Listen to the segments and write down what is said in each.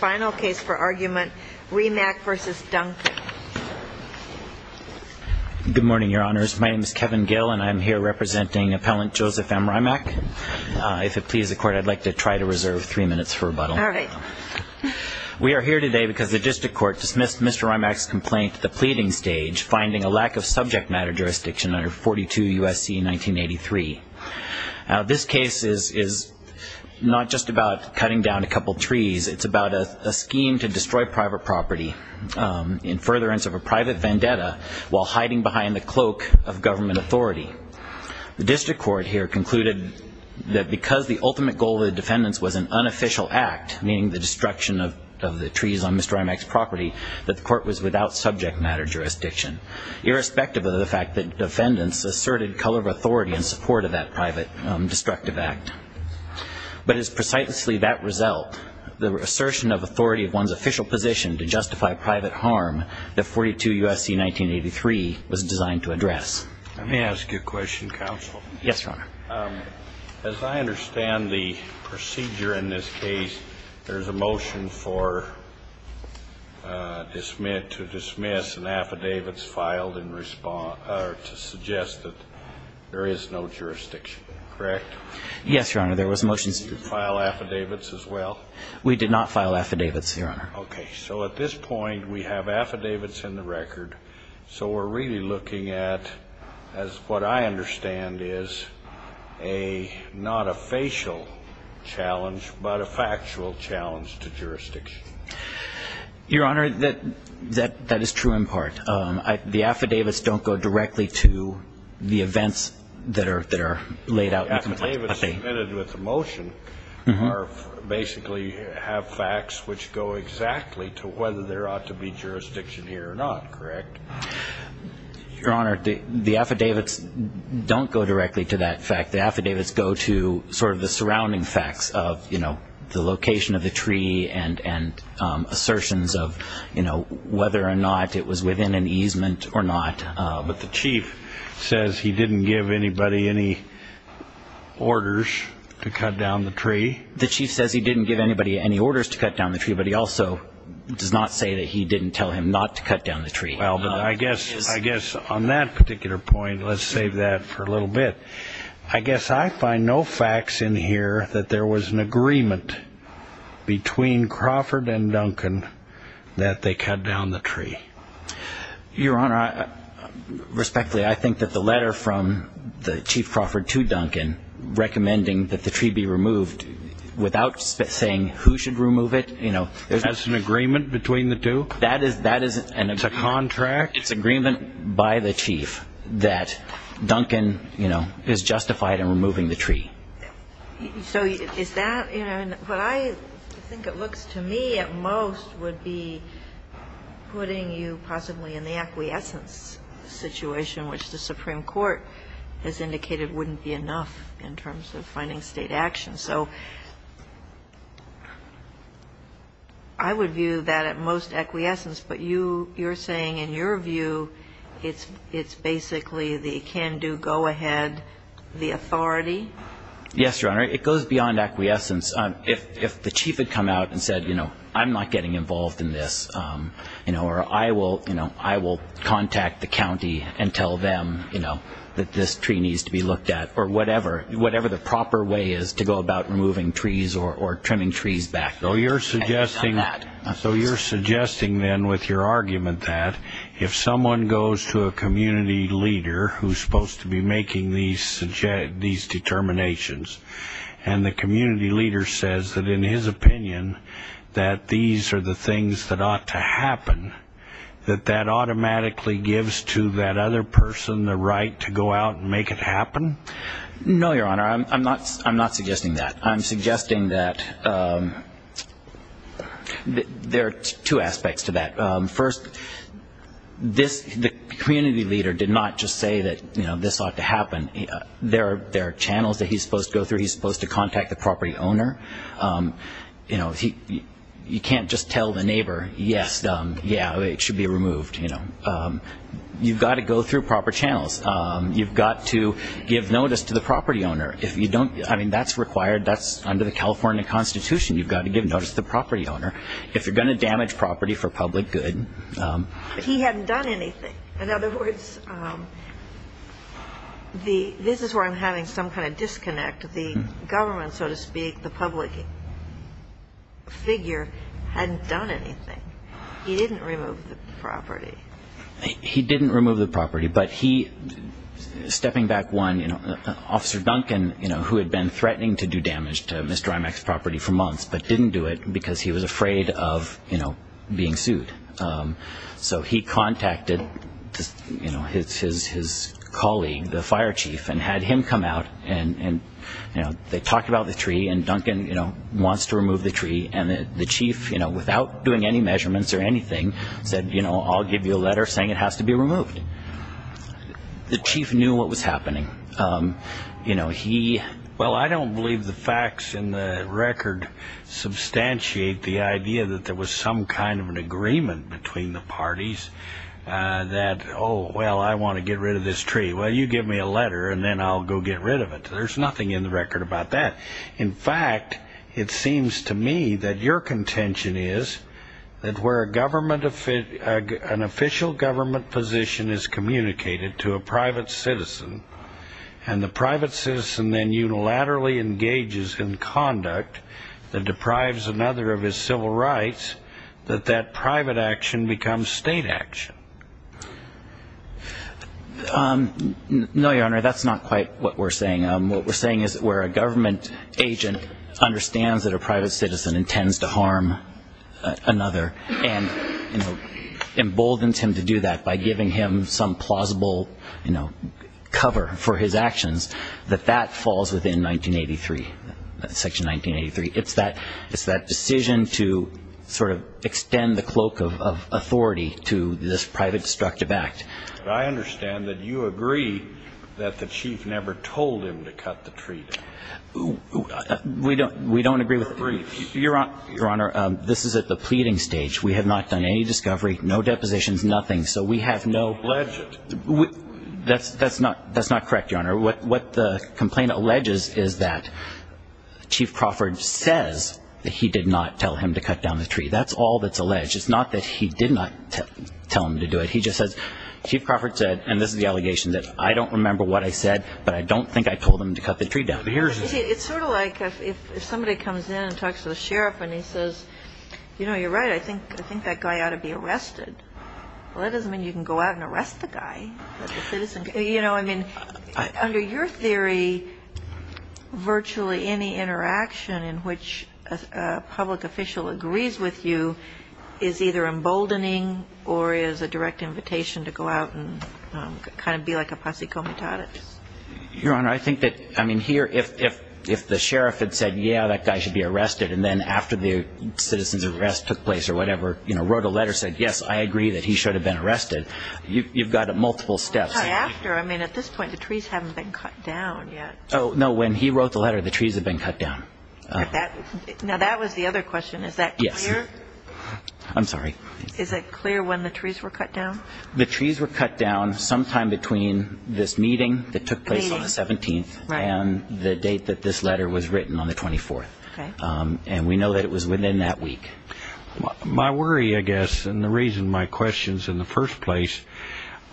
Good morning, your honors. My name is Kevin Gill, and I'm here representing Appellant Joseph M. Rimac. If it pleases the court, I'd like to try to reserve three minutes for rebuttal. All right. We are here today because the district court dismissed Mr. Rimac's complaint at the pleading stage, finding a lack of subject matter jurisdiction under 42 U.S.C. 1983. Now, this case is not just about cutting down a couple trees. It's about a case where the district court found that there was a lack of subject matter jurisdiction under a scheme to destroy private property in furtherance of a private vendetta while hiding behind the cloak of government authority. The district court here concluded that because the ultimate goal of the defendants was an unofficial act, meaning the destruction of the trees on Mr. Rimac's property, that the court was without subject matter jurisdiction, irrespective of the fact that defendants asserted color of authority in support of that private destructive act. But it's precisely that result, the assertion of authority of one's official position to justify private harm that 42 U.S.C. 1983 was designed to address. Let me ask you a question, counsel. Yes, Your Honor. As I understand the procedure in this case, there's a motion to dismiss an affidavit filed to suggest that there is no jurisdiction, correct? Yes, Your Honor. There was a motion. Did you file affidavits as well? We did not file affidavits, Your Honor. Okay. So at this point, we have affidavits in the record. So we're really looking at what I understand is not a facial challenge but a factual challenge to jurisdiction. Your Honor, that is true in part. The affidavits don't go directly to the events that are laid out in the complaint. The affidavits submitted with the motion basically have facts which go exactly to whether there ought to be jurisdiction here or not, correct? Your Honor, the affidavits don't go directly to that fact. The affidavits go to sort of the surrounding facts of, you know, the location of the tree and assertions of, you know, whether or not it was within an easement or not. But the chief says he didn't give anybody any orders to cut down the tree. The chief says he didn't give anybody any orders to cut down the tree, but he also does not say that he didn't tell him not to cut down the tree. Well, I guess on that particular point, let's save that for a little bit. I guess I find no facts in here that there was an agreement between Crawford and Duncan that they cut down the tree. Your Honor, respectfully, I think that the letter from the chief Crawford to Duncan recommending that the tree be removed without saying who should remove it, you know. There's an agreement between the two? That is an agreement. It's a contract? It's agreement by the chief that Duncan, you know, is justified in removing the tree. So is that, you know, what I think it looks to me at most would be putting you possibly in the acquiescence situation, which the Supreme Court has indicated wouldn't be enough in terms of finding State action. So I would view that at most acquiescence, but you're saying in your view it's basically the can-do go-ahead, the authority? Yes, Your Honor. It goes beyond acquiescence. If the chief had come out and said, you know, I'm not getting involved in this, you know, I will contact the county and tell them, you know, that this tree needs to be looked at or whatever, whatever the proper way is to go about removing trees or trimming trees back. So you're suggesting then with your argument that if someone goes to a community leader who's supposed to be making these determinations and the community leader says that in his opinion that these are the things that ought to happen, that that automatically gives to that other person the right to go out and make it happen? No, Your Honor. I'm not suggesting that. I'm suggesting that there are two aspects to that. First, the community leader did not just say that, you know, this ought to happen. There are channels that he's supposed to go through. He's supposed to contact the property owner. You know, you can't just tell the neighbor, yes, yeah, it should be removed, you know. You've got to go through proper channels. You've got to give notice to the property owner. I mean, that's required. That's under the California Constitution. You've got to give notice to the property owner. If you're going to damage property for public good. But he hadn't done anything. In other words, this is where I'm having some kind of disconnect. The government, so to speak, the public figure, hadn't done anything. He didn't remove the property. He didn't remove the property, but he, stepping back one, Officer Duncan, you know, who had been threatening to do damage to Mr. Imack's property for months, but didn't do it because he was afraid of, you know, being sued. So he contacted, you know, his colleague, the fire chief, and had him come out. And, you know, they talked about the tree, and Duncan, you know, wants to remove the tree. And the chief, you know, without doing any measurements or anything, said, you know, I'll give you a letter saying it has to be removed. The chief knew what was happening. You know, he, well, I don't believe the facts in the record substantiate the idea that there was some kind of an agreement between the parties that, oh, well, I want to get rid of this tree. Well, you give me a letter, and then I'll go get rid of it. There's nothing in the record about that. In fact, it seems to me that your contention is that where a government, an official government position is communicated to a private citizen, and the private citizen then unilaterally engages in conduct that deprives another of his civil rights, that that private action becomes state action. No, Your Honor, that's not quite what we're saying. What we're saying is that where a government agent understands that a private citizen intends to harm another and, you know, emboldens him to do that by giving him some plausible, you know, cover for his actions, that that falls within 1983, Section 1983. It's that decision to sort of extend the cloak of authority to this private destructive act. But I understand that you agree that the chief never told him to cut the tree down. We don't agree with that. Briefs. Your Honor, this is at the pleading stage. We have not done any discovery, no depositions, nothing. So we have no legit. That's not correct, Your Honor. What the complaint alleges is that Chief Crawford says that he did not tell him to cut down the tree. That's all that's alleged. It's not that he did not tell him to do it. He just says Chief Crawford said, and this is the allegation, that I don't remember what I said, but I don't think I told him to cut the tree down. It's sort of like if somebody comes in and talks to the sheriff and he says, you know, you're right, I think that guy ought to be arrested. Well, that doesn't mean you can go out and arrest the guy. You know, I mean, under your theory, virtually any interaction in which a public official agrees with you is either emboldening or is a direct invitation to go out and kind of be like a posse comitatus. Your Honor, I think that, I mean, here, if the sheriff had said, yeah, that guy should be arrested, and then after the citizen's arrest took place or whatever, you know, wrote a letter, said, yes, I agree that he should have been arrested, you've got multiple steps. Well, not after. I mean, at this point, the trees haven't been cut down yet. Oh, no. When he wrote the letter, the trees had been cut down. Now, that was the other question. Is that clear? Yes. I'm sorry. Is it clear when the trees were cut down? The trees were cut down sometime between this meeting that took place on the 17th and the date that this letter was written on the 24th. And we know that it was within that week. My worry, I guess, and the reason my question is in the first place,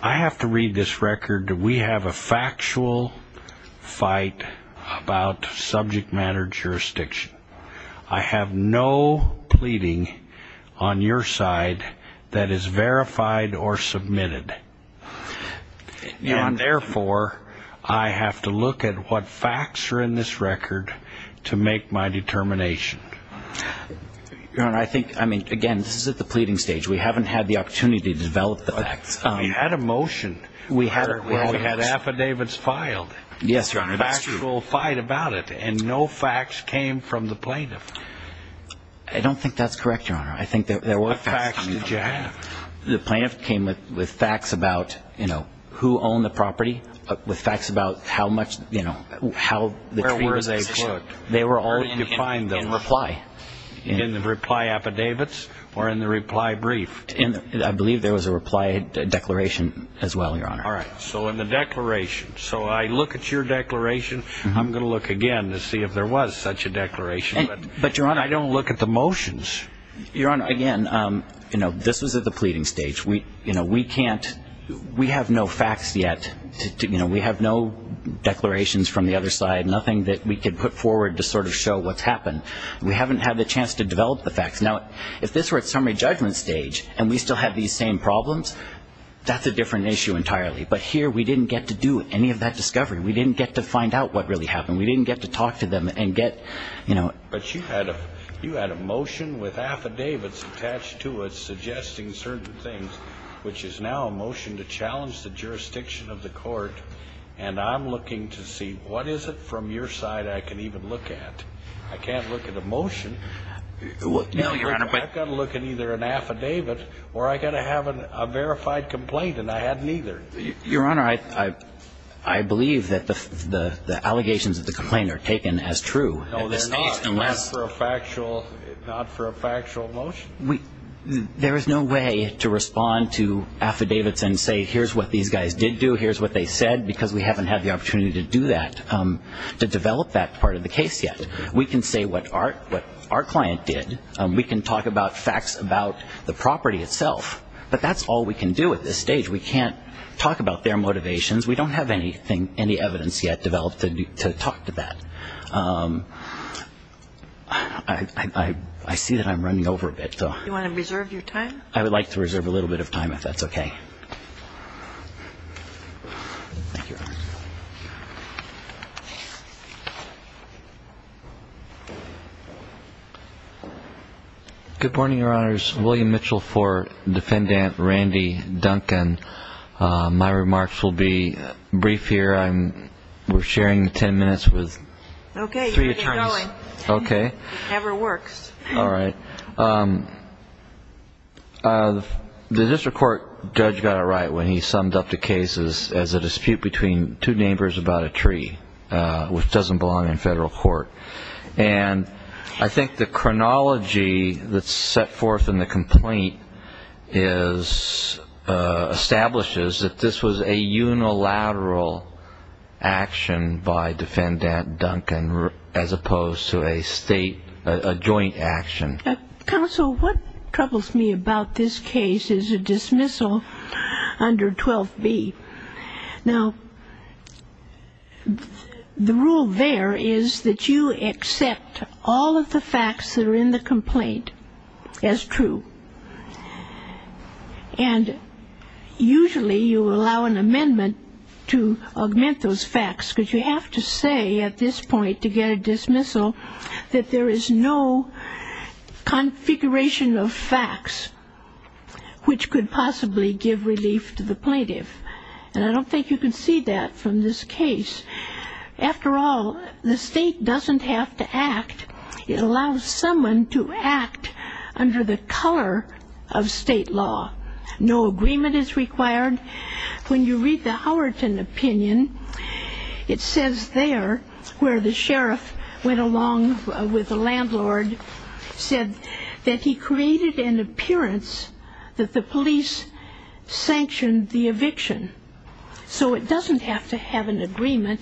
I have to read this record. We have a factual fight about subject matter jurisdiction. I have no pleading on your side that is verified or submitted. And therefore, I have to look at what facts are in this record to make my determination. Your Honor, I think, I mean, again, this is at the pleading stage. We haven't had the opportunity to develop the facts. We had a motion. We had affidavits filed. Yes, Your Honor, that's true. And no facts came from the plaintiff. I don't think that's correct, Your Honor. I think there were facts. What facts did you have? The plaintiff came with facts about, you know, who owned the property, with facts about how much, you know, how the tree was positioned. Where were they put? They were all defined in reply. In the reply affidavits or in the reply brief? I believe there was a reply declaration as well, Your Honor. All right. So in the declaration. So I look at your declaration. I'm going to look again to see if there was such a declaration. But, Your Honor, I don't look at the motions. Your Honor, again, you know, this was at the pleading stage. You know, we can't, we have no facts yet. You know, we have no declarations from the other side, nothing that we could put forward to sort of show what's happened. We haven't had the chance to develop the facts. Now, if this were at summary judgment stage and we still had these same problems, that's a different issue entirely. But here we didn't get to do any of that discovery. We didn't get to find out what really happened. We didn't get to talk to them and get, you know. But you had a motion with affidavits attached to it suggesting certain things, which is now a motion to challenge the jurisdiction of the court, and I'm looking to see what is it from your side I can even look at. I can't look at a motion. No, Your Honor. I've got to look at either an affidavit or I've got to have a verified complaint, and I haven't either. Your Honor, I believe that the allegations of the complaint are taken as true. No, they're not. Not for a factual motion? There is no way to respond to affidavits and say, here's what these guys did do, here's what they said, because we haven't had the opportunity to do that, to develop that part of the case yet. We can say what our client did. We can talk about facts about the property itself. But that's all we can do at this stage. We can't talk about their motivations. We don't have any evidence yet developed to talk to that. I see that I'm running over a bit. Do you want to reserve your time? I would like to reserve a little bit of time if that's okay. Thank you, Your Honor. Good morning, Your Honors. William Mitchell for Defendant Randy Duncan. My remarks will be brief here. We're sharing 10 minutes with three attorneys. Okay. It never works. All right. The district court judge got it right when he summed up the cases as a dispute between two neighbors about a tree. Which doesn't belong in federal court. And I think the chronology that's set forth in the complaint establishes that this was a unilateral action by Defendant Duncan as opposed to a state, a joint action. Counsel, what troubles me about this case is a dismissal under 12B. Now, the rule there is that you accept all of the facts that are in the complaint as true. And usually you allow an amendment to augment those facts because you have to say at this point to get a dismissal that there is no configuration of facts which could possibly give relief to the plaintiff. And I don't think you can see that from this case. After all, the state doesn't have to act. It allows someone to act under the color of state law. No agreement is required. When you read the Howerton opinion, it says there where the sheriff went along with the landlord, said that he created an appearance that the police sanctioned the eviction. So it doesn't have to have an agreement.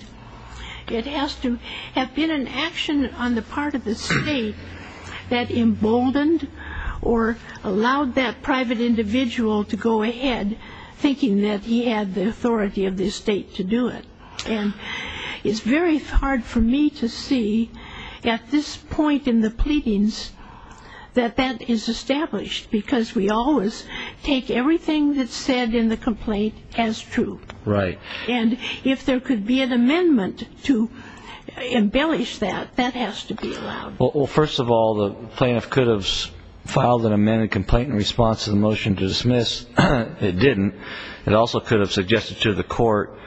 It has to have been an action on the part of the state that emboldened or allowed that private individual to go ahead thinking that he had the authority of the state to do it. And it's very hard for me to see at this point in the pleadings that that is established because we always take everything that's said in the complaint as true. Right. And if there could be an amendment to embellish that, that has to be allowed. Well, first of all, the plaintiff could have filed an amended complaint in response to the motion to dismiss. It didn't. It also could have suggested to the court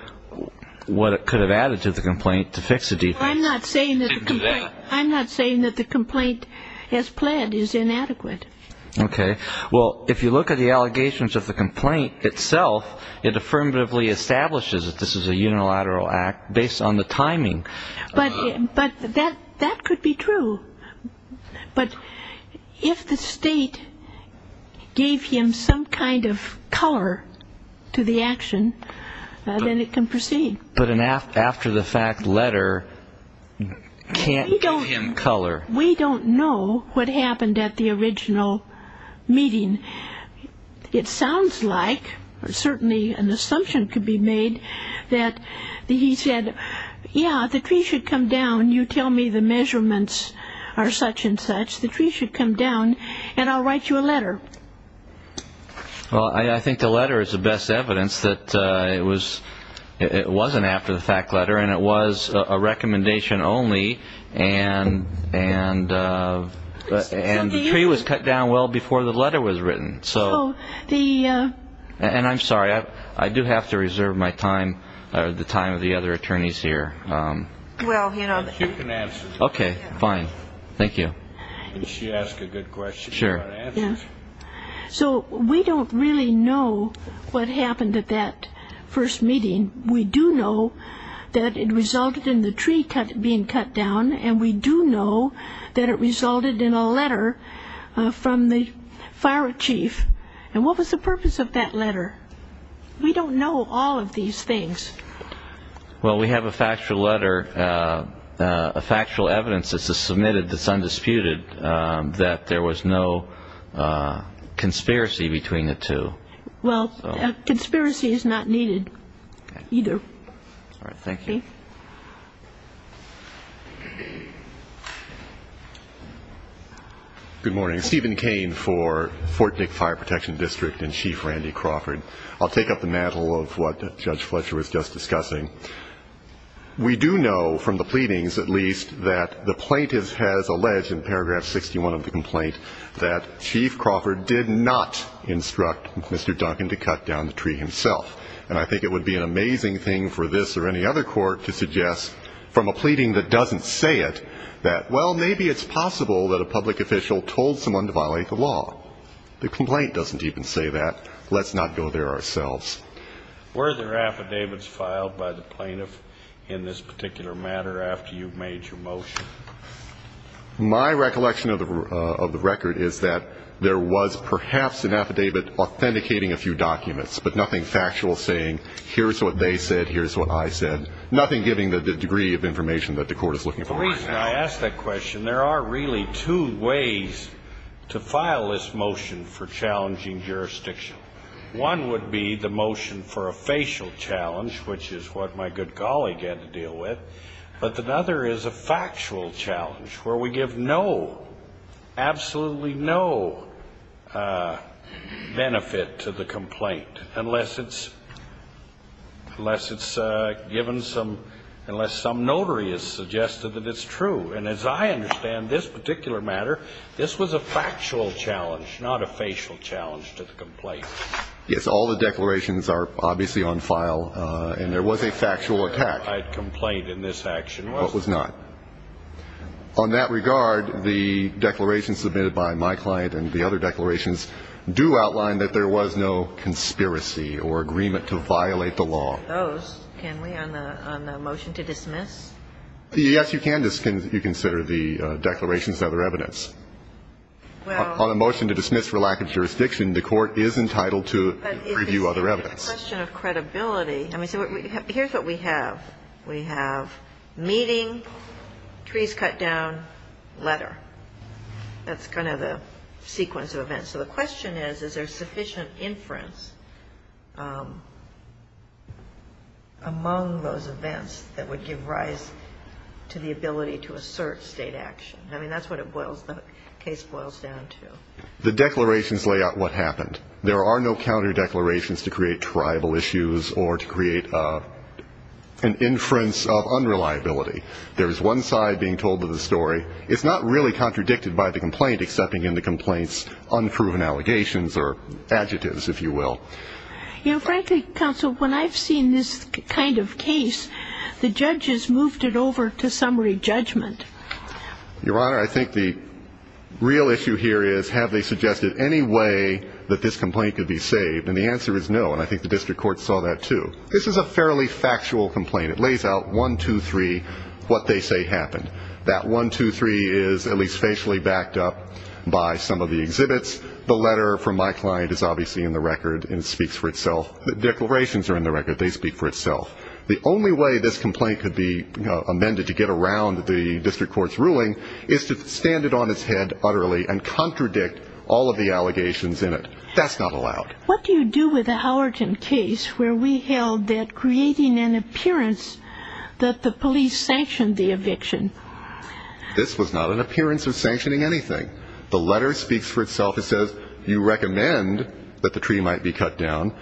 what it could have added to the complaint to fix the defense. I'm not saying that the complaint has pled is inadequate. Okay. Well, if you look at the allegations of the complaint itself, it affirmatively establishes that this is a unilateral act based on the timing. But that could be true. But if the state gave him some kind of color to the action, then it can proceed. But an after-the-fact letter can't give him color. We don't know what happened at the original meeting. It sounds like or certainly an assumption could be made that he said, yeah, the tree should come down, you tell me the measurements are such and such, the tree should come down, and I'll write you a letter. Well, I think the letter is the best evidence that it wasn't an after-the-fact letter and it was a recommendation only and the tree was cut down well before the letter was written. And I'm sorry, I do have to reserve my time or the time of the other attorneys here. Well, you know. She can answer. Okay, fine. Thank you. And she asked a good question. Sure. She got answers. So we don't really know what happened at that first meeting. We do know that it resulted in the tree being cut down, and we do know that it resulted in a letter from the fire chief. And what was the purpose of that letter? We don't know all of these things. Well, we have a factual letter, a factual evidence that's submitted that's undisputed, that there was no conspiracy between the two. Well, conspiracy is not needed. Either. All right, thank you. Thank you. Good morning. Stephen Cain for Fort Dick Fire Protection District and Chief Randy Crawford. I'll take up the mantle of what Judge Fletcher was just discussing. We do know from the pleadings, at least, that the plaintiff has alleged in paragraph 61 of the complaint that Chief Crawford did not instruct Mr. Duncan to cut down the tree himself. And I think it would be an amazing thing for this or any other court to suggest, from a pleading that doesn't say it, that, well, maybe it's possible that a public official told someone to violate the law. The complaint doesn't even say that. Let's not go there ourselves. Were there affidavits filed by the plaintiff in this particular matter after you made your motion? My recollection of the record is that there was perhaps an affidavit authenticating a few documents, but nothing factual saying here's what they said, here's what I said, nothing giving the degree of information that the court is looking for right now. The reason I ask that question, there are really two ways to file this motion for challenging jurisdiction. One would be the motion for a facial challenge, which is what my good colleague had to deal with. But the other is a factual challenge where we give no, absolutely no benefit to the complaint unless it's given some, unless some notary has suggested that it's true. And as I understand this particular matter, this was a factual challenge, not a facial challenge to the complaint. Yes, all the declarations are obviously on file, and there was a factual attack. But what was not? What was not? On that regard, the declarations submitted by my client and the other declarations do outline that there was no conspiracy or agreement to violate the law. Those, can we, on the motion to dismiss? Yes, you can, you consider the declarations other evidence. Well. On a motion to dismiss for lack of jurisdiction, the court is entitled to review other evidence. But it's a question of credibility. I mean, so here's what we have. We have meeting, trees cut down, letter. That's kind of the sequence of events. So the question is, is there sufficient inference among those events that would give rise to the ability to assert State action? I mean, that's what it boils, the case boils down to. The declarations lay out what happened. There are no counter declarations to create tribal issues or to create an inference of unreliability. There is one side being told of the story. It's not really contradicted by the complaint, excepting in the complaint's unproven allegations or adjectives, if you will. You know, frankly, counsel, when I've seen this kind of case, the judges moved it over to summary judgment. Your Honor, I think the real issue here is, have they suggested any way that this complaint could be saved? And the answer is no. And I think the district court saw that, too. This is a fairly factual complaint. It lays out one, two, three, what they say happened. That one, two, three is at least facially backed up by some of the exhibits. The letter from my client is obviously in the record and speaks for itself. The declarations are in the record. They speak for itself. The only way this complaint could be amended to get around the district court's ruling is to stand it on its head utterly and contradict all of the allegations in it. That's not allowed. What do you do with a Howerton case where we held that creating an appearance that the police sanctioned the eviction? This was not an appearance of sanctioning anything. The letter speaks for itself. It says you recommend that the treaty might be cut down.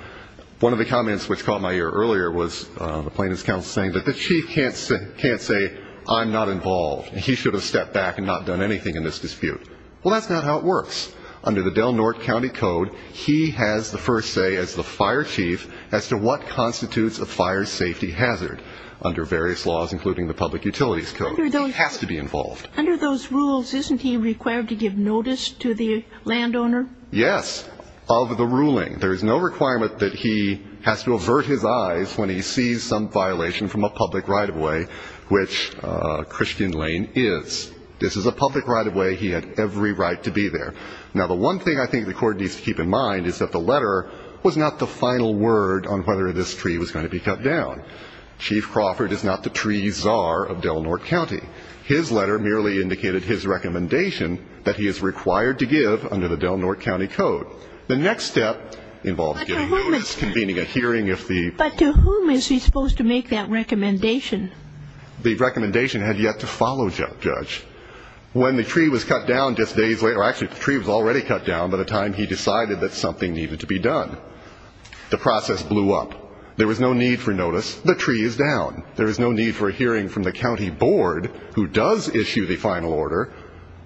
One of the comments which caught my ear earlier was the plaintiff's counsel saying that the chief can't say, I'm not involved, and he should have stepped back and not done anything in this dispute. Well, that's not how it works. Under the Del Norte County Code, he has the first say as the fire chief as to what constitutes a fire safety hazard under various laws, including the Public Utilities Code. He has to be involved. Under those rules, isn't he required to give notice to the landowner? Yes, of the ruling. There is no requirement that he has to avert his eyes when he sees some violation from a public right-of-way, which Christian Lane is. This is a public right-of-way. He had every right to be there. Now, the one thing I think the court needs to keep in mind is that the letter was not the final word on whether this treaty was going to be cut down. Chief Crawford is not the treaty czar of Del Norte County. His letter merely indicated his recommendation that he is required to give under the Del Norte County Code. The next step involves getting notice, convening a hearing. But to whom is he supposed to make that recommendation? The recommendation had yet to follow, Judge. When the treaty was cut down just days later, actually the treaty was already cut down by the time he decided that something needed to be done. The process blew up. There was no need for notice. The treaty is down. There is no need for a hearing from the county board, who does issue the final order.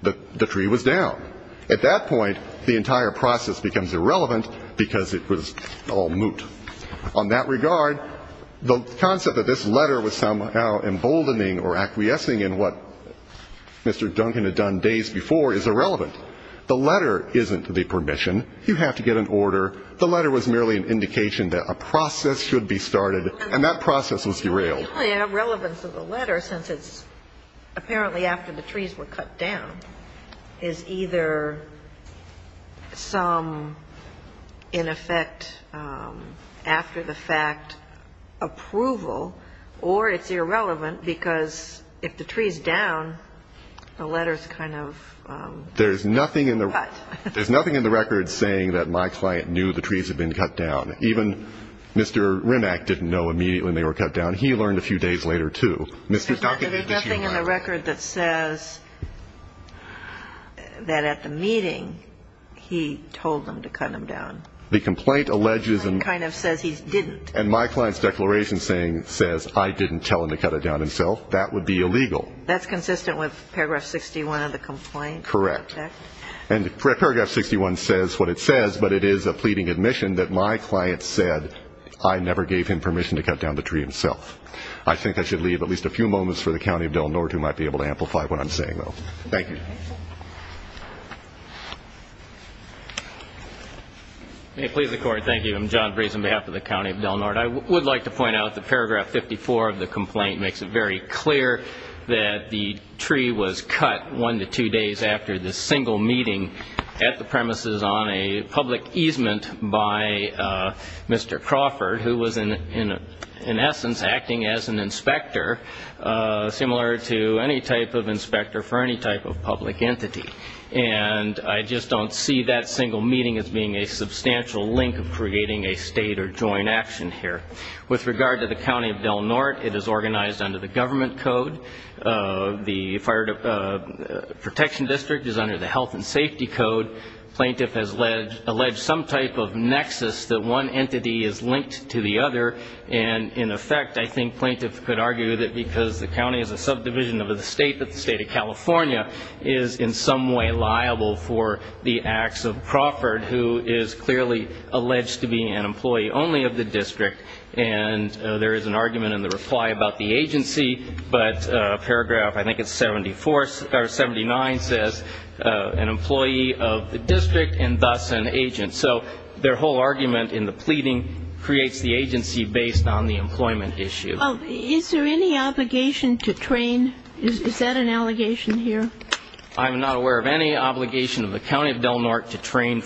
The treaty was down. At that point, the entire process becomes irrelevant because it was all moot. On that regard, the concept that this letter was somehow emboldening or acquiescing in what Mr. Duncan had done days before is irrelevant. The letter isn't the permission. You have to get an order. The letter was merely an indication that a process should be started, and that process was derailed. The only irrelevance of the letter, since it's apparently after the trees were cut down, is either some, in effect, after-the-fact approval, or it's irrelevant because if the tree's down, the letter's kind of cut. There's nothing in the record saying that my client knew the trees had been cut down. Even Mr. Rimack didn't know immediately when they were cut down. He learned a few days later, too. Mr. Duncan, did you know? There's nothing in the record that says that at the meeting he told them to cut them down. The complaint alleges and my client's declaration says I didn't tell him to cut it down himself. That would be illegal. That's consistent with paragraph 61 of the complaint? Correct. And paragraph 61 says what it says, but it is a pleading admission that my client said that I never gave him permission to cut down the tree himself. I think I should leave at least a few moments for the County of Del Norte who might be able to amplify what I'm saying, though. Thank you. May it please the Court, thank you. I'm John Breeze on behalf of the County of Del Norte. I would like to point out that paragraph 54 of the complaint makes it very clear that the tree was cut one to two days after the single meeting at the premises on a public easement by Mr. Crawford, who was in essence acting as an inspector, similar to any type of inspector for any type of public entity. And I just don't see that single meeting as being a substantial link of creating a state or joint action here. With regard to the County of Del Norte, it is organized under the government code. The fire protection district is under the health and safety code. Plaintiff has alleged some type of nexus that one entity is linked to the other, and in effect I think plaintiff could argue that because the county is a subdivision of the state, that the state of California is in some way liable for the acts of Crawford, who is clearly alleged to be an employee only of the district. And there is an argument in the reply about the agency, but paragraph, I think it's 74 or 79, says an employee of the district and thus an agent. So their whole argument in the pleading creates the agency based on the employment issue. Is there any obligation to train? Is that an allegation here? I'm not aware of any obligation of the County of Del Norte to train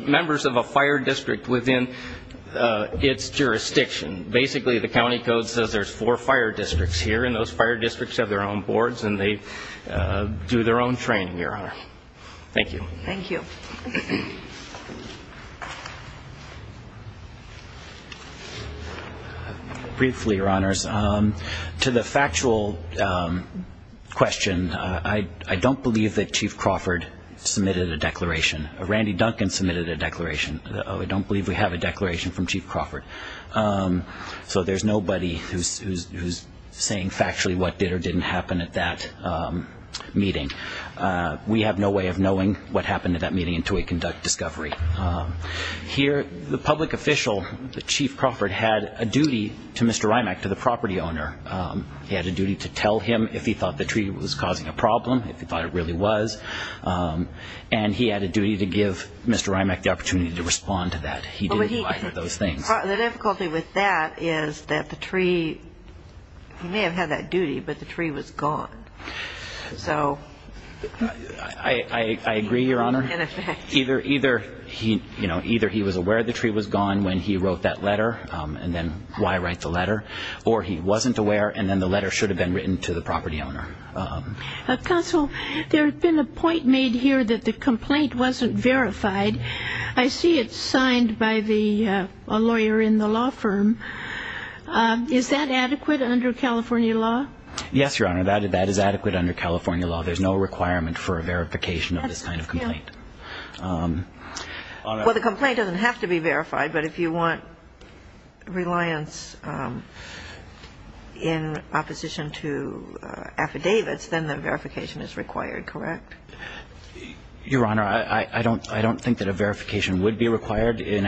members of a fire district within its jurisdiction. Basically, the county code says there's four fire districts here, and those fire districts have their own boards and they do their own training, Your Honor. Thank you. Thank you. Briefly, Your Honors, to the factual question, I don't believe that Chief Crawford submitted a declaration. Randy Duncan submitted a declaration. I don't believe we have a declaration from Chief Crawford. So there's nobody who's saying factually what did or didn't happen at that meeting. We have no way of knowing what happened at that meeting until we conduct discussions. Here, the public official, the Chief Crawford, had a duty to Mr. Rymack, to the property owner. He had a duty to tell him if he thought the tree was causing a problem, if he thought it really was, and he had a duty to give Mr. Rymack the opportunity to respond to that. He didn't do either of those things. The difficulty with that is that the tree, he may have had that duty, but the tree was gone. So in effect. I agree, Your Honor. Either he was aware the tree was gone when he wrote that letter, and then why write the letter, or he wasn't aware and then the letter should have been written to the property owner. Counsel, there's been a point made here that the complaint wasn't verified. I see it's signed by a lawyer in the law firm. Is that adequate under California law? Yes, Your Honor, that is adequate under California law. There's no requirement for a verification of this kind of complaint. Well, the complaint doesn't have to be verified, but if you want reliance in opposition to affidavits, then the verification is required, correct? Your Honor, I don't think that a verification would be required in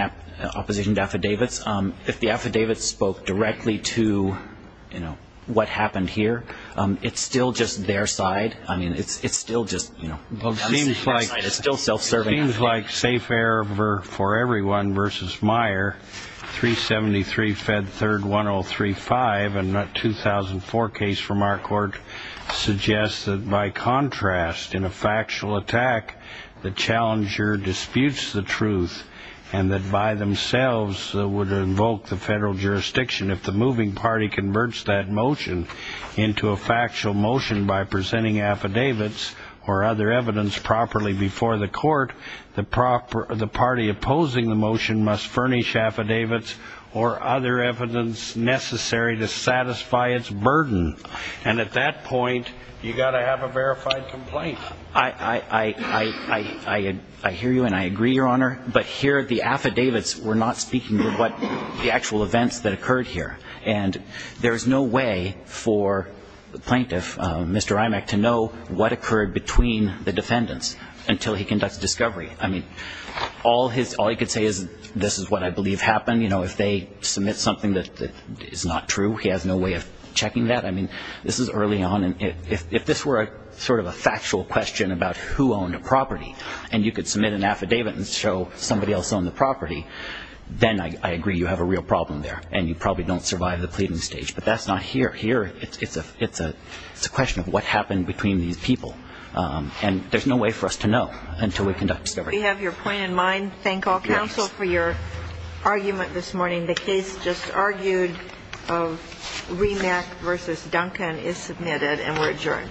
opposition to affidavits. If the affidavit spoke directly to what happened here, it's still just their side. I mean, it's still just, you know, it's still self-serving. It seems like safe air for everyone versus Meyer, 373, Fed 3rd, 1035, and that 2004 case from our court suggests that by contrast, in a factual attack, the challenger disputes the truth and that by themselves would invoke the federal jurisdiction. If the moving party converts that motion into a factual motion by presenting affidavits or other evidence properly before the court, the party opposing the motion must furnish affidavits or other evidence necessary to satisfy its burden. And at that point, you've got to have a verified complaint. I hear you and I agree, Your Honor, but here the affidavits were not speaking to what the actual events that occurred here. And there is no way for the plaintiff, Mr. Imack, to know what occurred between the defendants until he conducts discovery. I mean, all he could say is this is what I believe happened. You know, if they submit something that is not true, he has no way of checking that. I mean, this is early on, and if this were sort of a factual question about who owned a property and you could submit an affidavit and show somebody else owned the property, then I agree you have a real problem there and you probably don't survive the pleading stage. But that's not here. Here it's a question of what happened between these people. And there's no way for us to know until we conduct discovery. We have your point in mind. Thank all counsel for your argument this morning. The case just argued of Imack v. Duncan is submitted and we're adjourned. Thank you.